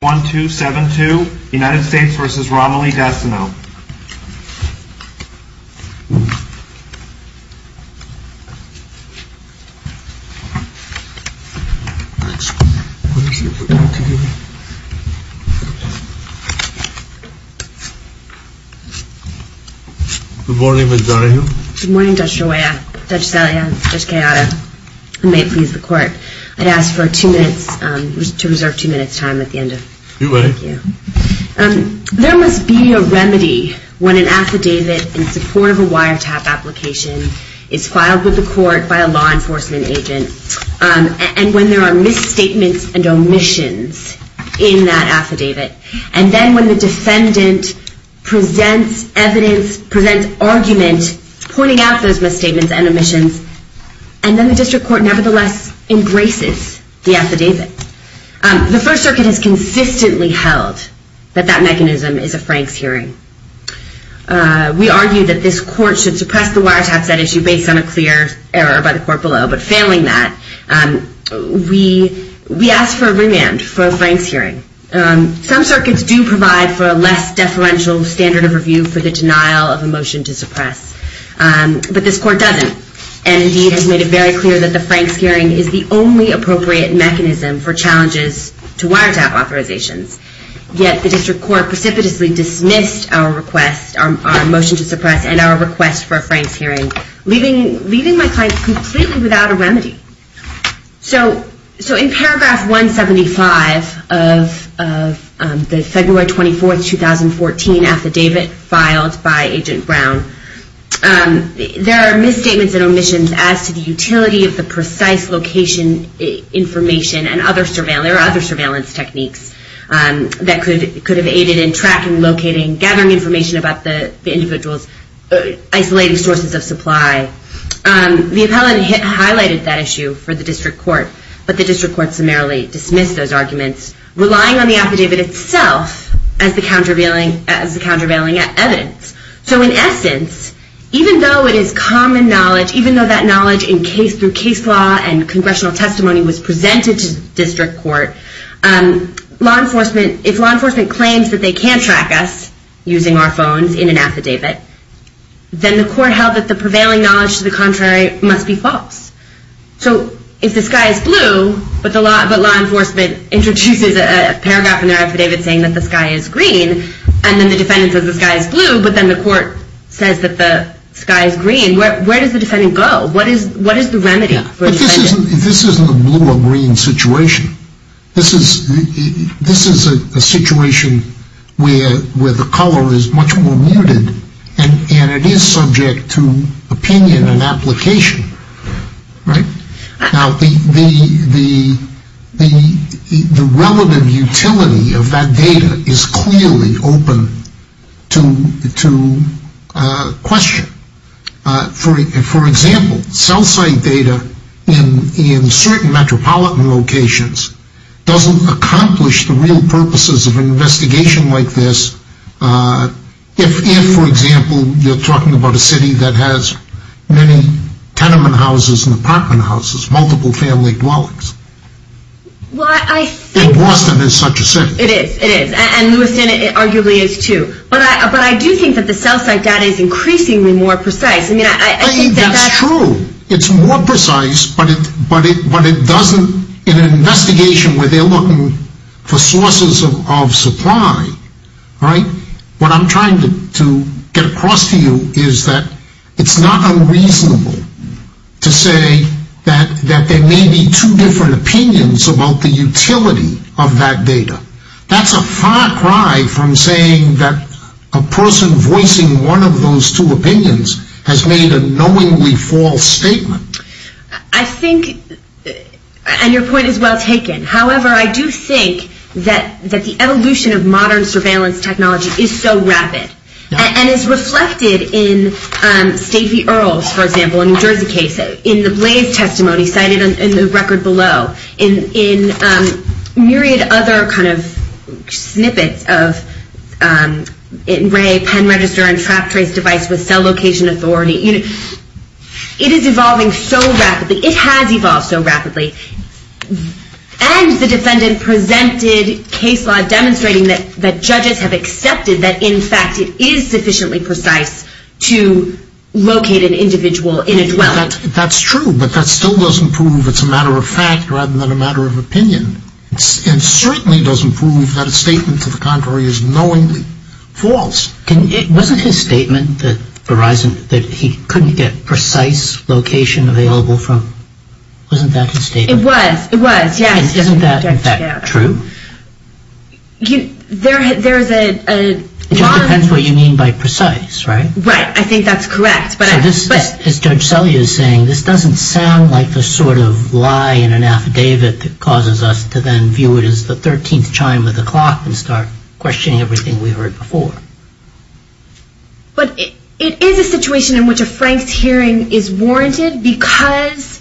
1, 2, 7, 2, United States v. Romilly Dastinot Good morning, Ms. Darnahill. Good morning, Judge Shoya, Judge Saliha, Judge Kayada. I may please the court. I'd ask for you to reserve two minutes time at the end. There must be a remedy when an affidavit in support of a wiretap application is filed with the court by a law enforcement agent and when there are misstatements and omissions in that affidavit. And then when the defendant presents evidence, presents argument, pointing out those misstatements and omissions, and then the district court nevertheless embraces the affidavit. The First Circuit has consistently held that that mechanism is a Franks hearing. We argue that this court should suppress the wiretap set issue based on a clear error by the court below, but failing that, we ask for a remand for a Franks hearing. Some circuits do provide for a less deferential standard of review for the denial of a motion to suppress, but this court doesn't, and indeed has made it very clear that the Franks hearing is the only appropriate mechanism for challenges to wiretap authorizations. Yet the district court precipitously dismissed our request, our motion to suppress, and our request for a Franks hearing, leaving my client completely without a remedy. So in paragraph 175 of the February 24, 2014 affidavit filed by Agent Brown, there are misstatements and omissions as to the utility of the precise location information and other surveillance techniques that could have aided in tracking, locating, gathering information about the individual's isolating sources of supply. The appellant highlighted that issue for the district court, but the district court summarily dismissed those arguments, relying on the affidavit itself as the countervailing evidence. So in essence, even though it is common knowledge, even though that knowledge in case through case law and congressional testimony was presented to district court, if law enforcement claims that they can track us using our phones in an affidavit, then the court held that the prevailing knowledge to the contrary must be false. So if the sky is blue, but law enforcement introduces a paragraph in their affidavit saying that the sky is green, and then the defendant says the sky is blue, but then the court says that the sky is green, where does the defendant go? What is the remedy? But this isn't a blue or green situation. This is a situation where the color is much more muted, and it is subject to opinion and application, right? Now, the relative utility of that data is clearly open to question. For example, cell site data in certain metropolitan locations doesn't accomplish the real purposes of an investigation like this if, for example, you're talking about a city that has many tenement houses and apartment houses, multiple family dwellings. Well, I think... And Boston is such a city. It is. It is. And Lewiston arguably is, too. But I do think that the cell site data is increasingly more precise. I mean, I think that that's... I mean, that's true. It's more precise, but it doesn't, in an investigation where they're looking for sources of supply, right? What I'm trying to get across to you is that it's not unreasonable to say that there may be two different opinions about the utility of that data. That's a far cry from saying that a person voicing one of those two opinions has made a knowingly false statement. I think... And your point is well taken. However, I do think that the evolution of modern surveillance technology is so rapid and is reflected in Stacey Earle's, for example, New Jersey case, in the Blaze testimony cited in the record below, in myriad other kind of snippets of ray, pen register, and trap trace device with cell location authority. It is evolving so rapidly. It has evolved so rapidly. And the defendant presented case law demonstrating that judges have accepted that, in fact, it is sufficiently precise to locate an individual in a dwelling. That's true, but that still doesn't prove it's a matter of fact rather than a matter of opinion. And certainly doesn't prove that a statement to the contrary is knowingly false. Wasn't his statement that he couldn't get precise location available from... Wasn't that his statement? It was. It was, yes. Isn't that, in fact, true? There's a lot of... It just depends what you mean by precise, right? Right. I think that's correct. So this, as Judge Selye is saying, this doesn't sound like the sort of lie in an affidavit that causes us to then view it as the 13th chime of the clock and start questioning everything we heard before. But it is a situation in which a Frank's hearing is warranted because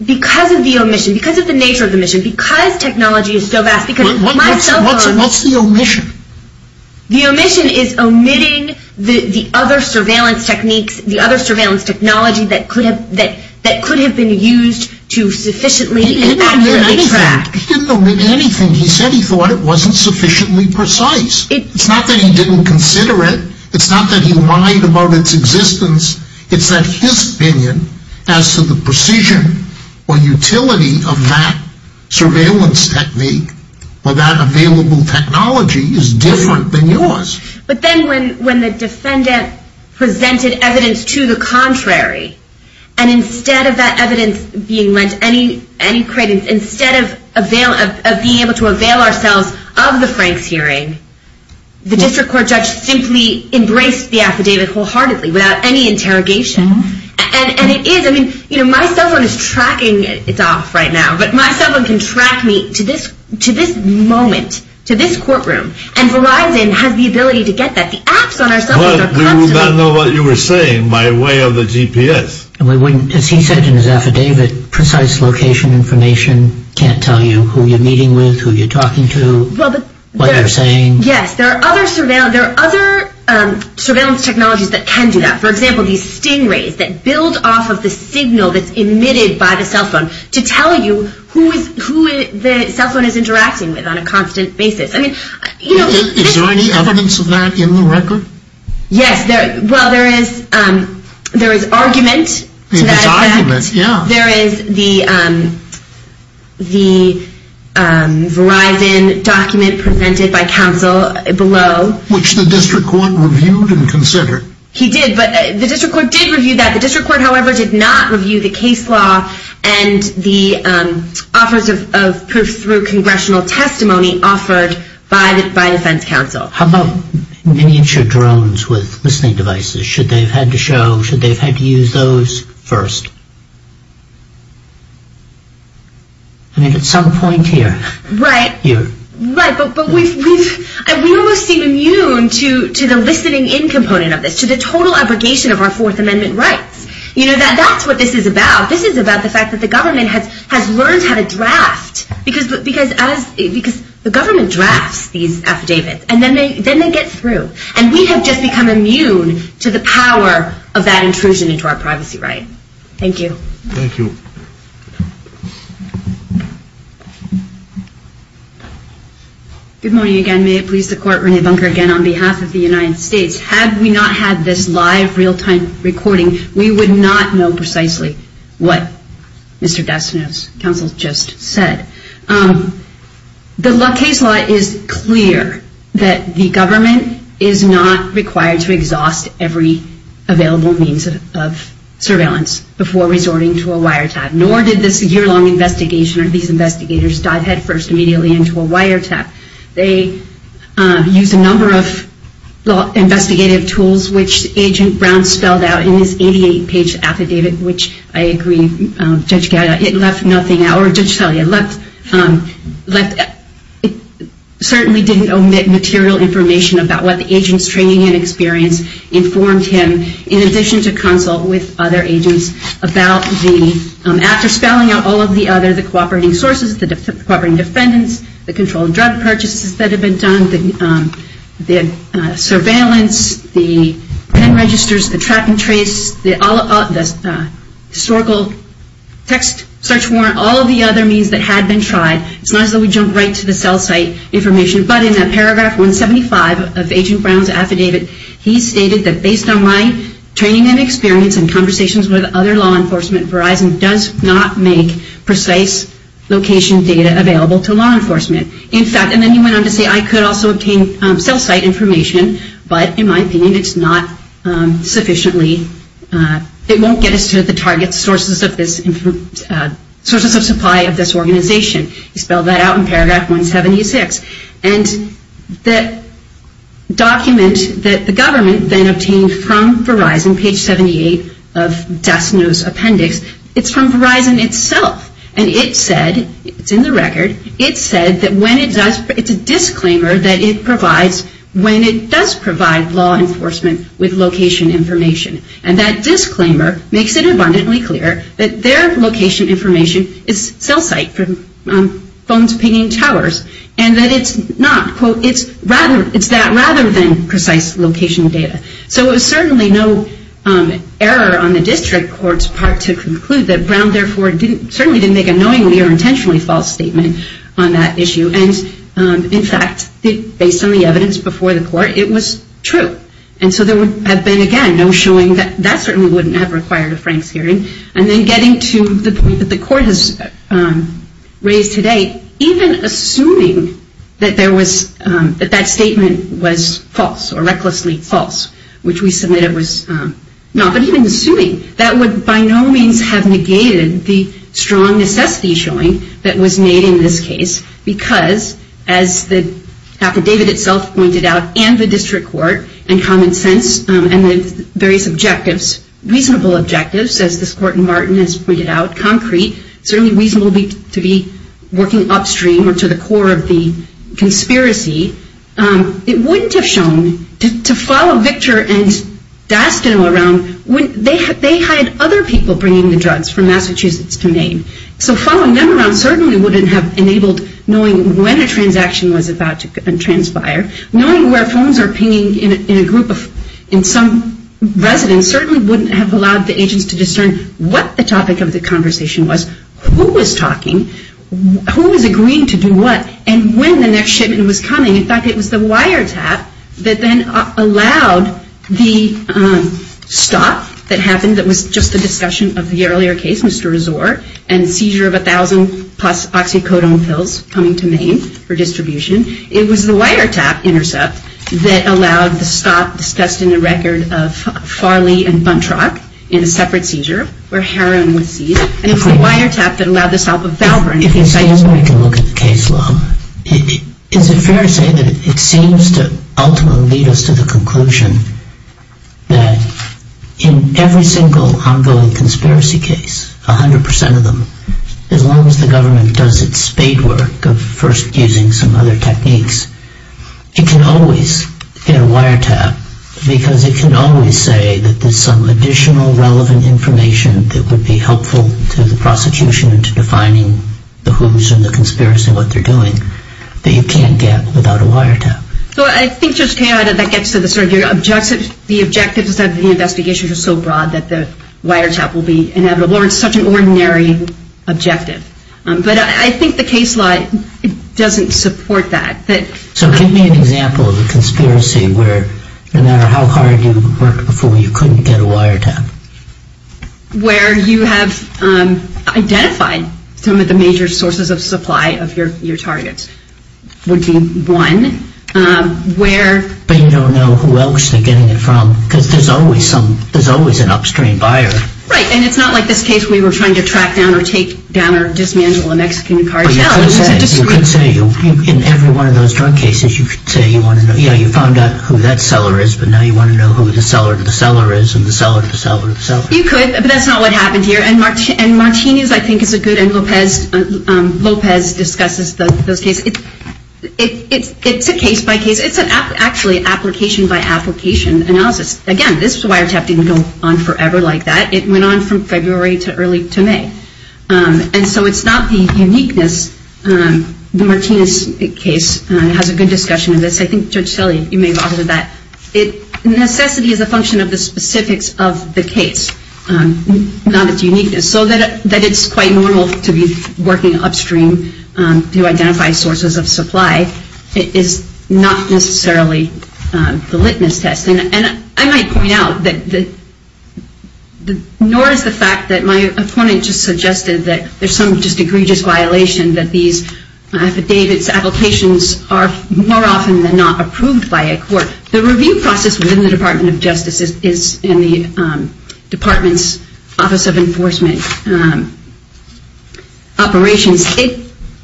of the omission, because of the nature of the omission, because technology is so vast... What's the omission? The omission is omitting the other surveillance techniques, the other surveillance technology that could have been used to sufficiently accurately track... He didn't omit anything. He said he thought it wasn't sufficiently precise. It's not that he didn't consider it. It's not that he lied about its existence. It's that his opinion as to the precision or utility of that surveillance technique or that available technology is different than yours. But then when the defendant presented evidence to the contrary, and instead of that evidence being lent any credence, instead of being able to avail ourselves of the Frank's hearing, the district court judge simply embraced the affidavit wholeheartedly without any interrogation. And it is, I mean, my cell phone is tracking, it's off right now, but my cell phone can track me to this moment, to this courtroom, and Verizon has the ability to get that. The apps on our cell phones are customizable. But we would not know what you were saying by way of the GPS. As he said in his affidavit, precise location information can't tell you who you're meeting with, who you're talking to, what you're saying. Yes, there are other surveillance technologies that can do that. For example, these sting rays that build off of the signal that's emitted by the cell phone to tell you who the cell phone is interacting with on a constant basis. Yes, well, there is argument to that effect. There is argument, yeah. There is the Verizon document presented by counsel below. Which the district court reviewed and considered. He did, but the district court did review that. The district court, however, did not review the case law and the offers of proof through congressional testimony offered by defense counsel. How about miniature drones with listening devices? Should they have had to show, should they have had to use those first? I mean, at some point here. Right. Here. Right, but we almost seem immune to the listening in component of this. To the total abrogation of our Fourth Amendment rights. You know, that's what this is about. This is about the fact that the government has learned how to draft. Because the government drafts these affidavits and then they get through. And we have just become immune to the power of that intrusion into our privacy right. Thank you. Thank you. Good morning again. May it please the court, Renee Bunker again on behalf of the United States. Had we not had this live, real-time recording, we would not know precisely what Mr. The case law is clear that the government is not required to exhaust every available means of surveillance before resorting to a wiretap. Nor did this year-long investigation or these investigators dive headfirst immediately into a wiretap. They used a number of investigative tools, which Agent Brown spelled out in his 88-page affidavit, which I agree, Judge Gallagher, it left nothing out. Or Judge Talia, it left, it certainly didn't omit material information about what the agent's training and experience informed him, in addition to consult with other agents about the, after spelling out all of the other, the cooperating sources, the cooperating defendants, the controlled drug purchases that have been done, the surveillance, the pen registers, the track and trace, the historical text search warrant, all of the other means that had been tried. It's not as though we jumped right to the cell site information, but in paragraph 175 of Agent Brown's affidavit, he stated that based on my training and experience and conversations with other law enforcement, Verizon does not make precise location data available to law enforcement. In fact, and then he went on to say I could also obtain cell site information, but in my opinion, it's not sufficiently, it won't get us to the target sources of this, sources of supply of this organization. He spelled that out in paragraph 176. And the document that the government then obtained from Verizon, page 78 of Das Neues Appendix, it's from Verizon itself, and it said, it's in the record, it said that when it does, it's a disclaimer that it provides when it does provide law enforcement with location information. And that disclaimer makes it abundantly clear that their location information is cell site, from phones pinging towers, and that it's not, quote, it's that rather than precise location data. So it was certainly no error on the district court's part to conclude that Brown, therefore, certainly didn't make a knowingly or intentionally false statement on that issue. And, in fact, based on the evidence before the court, it was true. And so there would have been, again, no showing that that certainly wouldn't have required a Franks hearing. And then getting to the point that the court has raised today, even assuming that there was, that that statement was false or recklessly false, which we submitted was not, but even assuming that would by no means have negated the strong necessity showing that was made in this case because, as Dr. David itself pointed out, and the district court, and common sense, and the various objectives, reasonable objectives, as this court in Martin has pointed out, concrete, certainly reasonable to be working upstream or to the core of the conspiracy. It wouldn't have shown, to follow Victor and Dastan around, they had other people bringing the drugs from Massachusetts to Maine. So following them around certainly wouldn't have enabled knowing when a transaction was about to transpire. Knowing where phones are pinging in a group of, in some residence, certainly wouldn't have allowed the agents to discern what the topic of the conversation was, who was talking, who was agreeing to do what, and when the next shipment was coming. In fact, it was the wiretap that then allowed the stop that happened that was just the discussion of the earlier case, Mr. Resor, and seizure of 1,000 plus oxycodone pills coming to Maine for distribution. It was the wiretap intercept that allowed the stop discussed in the record of Farley and Buntrock in a separate seizure where Heron was seized. And it was the wiretap that allowed the stop of Valverne. If we stand back and look at the case law, is it fair to say that it seems to ultimately lead us to the conclusion that in every single ongoing conspiracy case, 100% of them, as long as the government does its spade work of first using some other techniques, it can always get a wiretap because it can always say that there's some additional relevant information that would be helpful to the prosecution into defining the who's and the conspiracy and what they're doing that you can't get without a wiretap. So I think, Judge Cahill, that gets to the objective. The objective is that the investigations are so broad that the wiretap will be inevitable, or it's such an ordinary objective. But I think the case law doesn't support that. So give me an example of a conspiracy where no matter how hard you worked before, you couldn't get a wiretap. Where you have identified some of the major sources of supply of your targets would be one. But you don't know who else they're getting it from because there's always an upstream buyer. Right, and it's not like this case we were trying to track down or take down or dismantle a Mexican cartel. You could say in every one of those drug cases, you found out who that seller is, but now you want to know who the seller of the seller is and the seller of the seller of the seller. You could, but that's not what happened here. And Martinez, I think, is a good, and Lopez discusses those cases. It's a case by case. It's actually application by application analysis. Again, this wiretap didn't go on forever like that. It went on from February to early May. And so it's not the uniqueness. The Martinez case has a good discussion of this. I think Judge Tilly, you may have authored that. Necessity is a function of the specifics of the case, not its uniqueness. So that it's quite normal to be working upstream to identify sources of supply is not necessarily the litmus test. And I might point out that nor is the fact that my opponent just suggested that there's some just egregious violation that these affidavits applications are more often than not approved by a court. The review process within the Department of Justice is in the Department's Office of Enforcement Operations.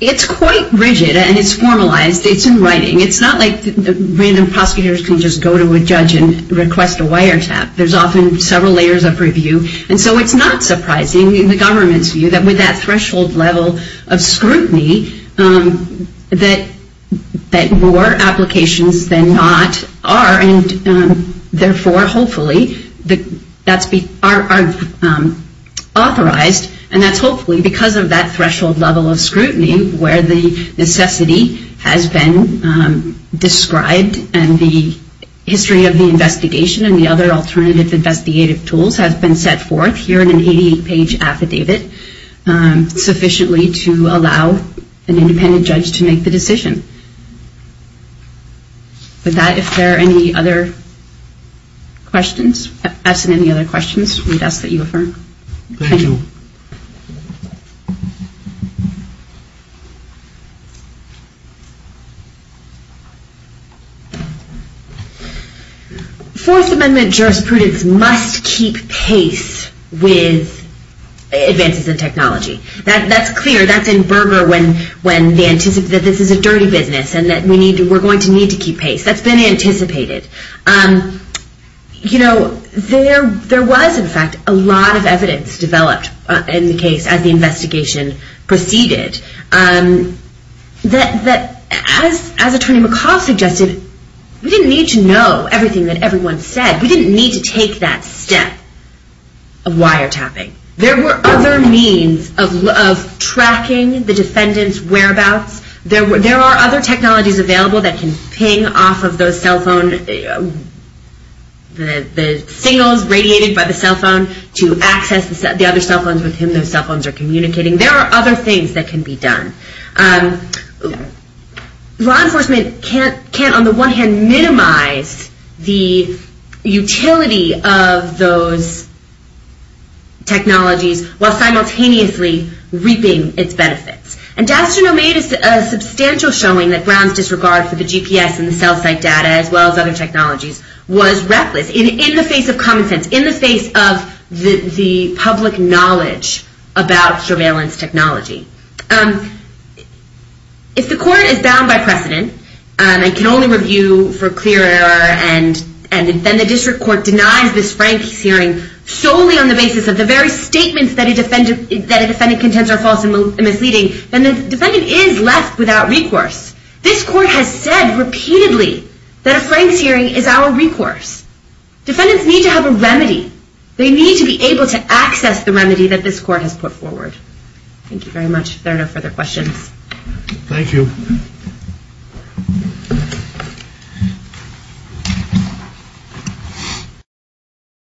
It's quite rigid and it's formalized. It's in writing. It's not like random prosecutors can just go to a judge and request a wiretap. There's often several layers of review. And so it's not surprising in the government's view that with that threshold level of scrutiny, that more applications than not are and therefore hopefully are authorized. And that's hopefully because of that threshold level of scrutiny where the necessity has been described and the history of the investigation and the other alternative investigative tools has been set forth here in an 88-page affidavit sufficiently to allow an independent judge to make the decision. With that, if there are any other questions, if there aren't any other questions, we'd ask that you affirm. Thank you. Fourth Amendment jurisprudence must keep pace with advances in technology. That's clear. That's in burger when they anticipate that this is a dirty business and that we're going to need to keep pace. That's been anticipated. You know, there was, in fact, a lot of evidence developed in the case as the investigation proceeded that, as Attorney McCaul suggested, we didn't need to know everything that everyone said. We didn't need to take that step of wiretapping. There were other means of tracking the defendant's whereabouts. There are other technologies available that can ping off of those cell phones, the signals radiated by the cell phone to access the other cell phones with whom those cell phones are communicating. There are other things that can be done. Law enforcement can't, on the one hand, minimize the utility of those technologies while simultaneously reaping its benefits. And Dastanow made a substantial showing that Brown's disregard for the GPS and the cell site data, as well as other technologies, was reckless in the face of common sense, in the face of the public knowledge about surveillance technology. If the court is bound by precedent and can only review for clear error and then the district court denies this frank hearing solely on the basis of the very statements that a defendant contends are false and misleading, then the defendant is left without recourse. This court has said repeatedly that a frank hearing is our recourse. Defendants need to have a remedy. They need to be able to access the remedy that this court has put forward. Thank you very much. If there are no further questions. Thank you.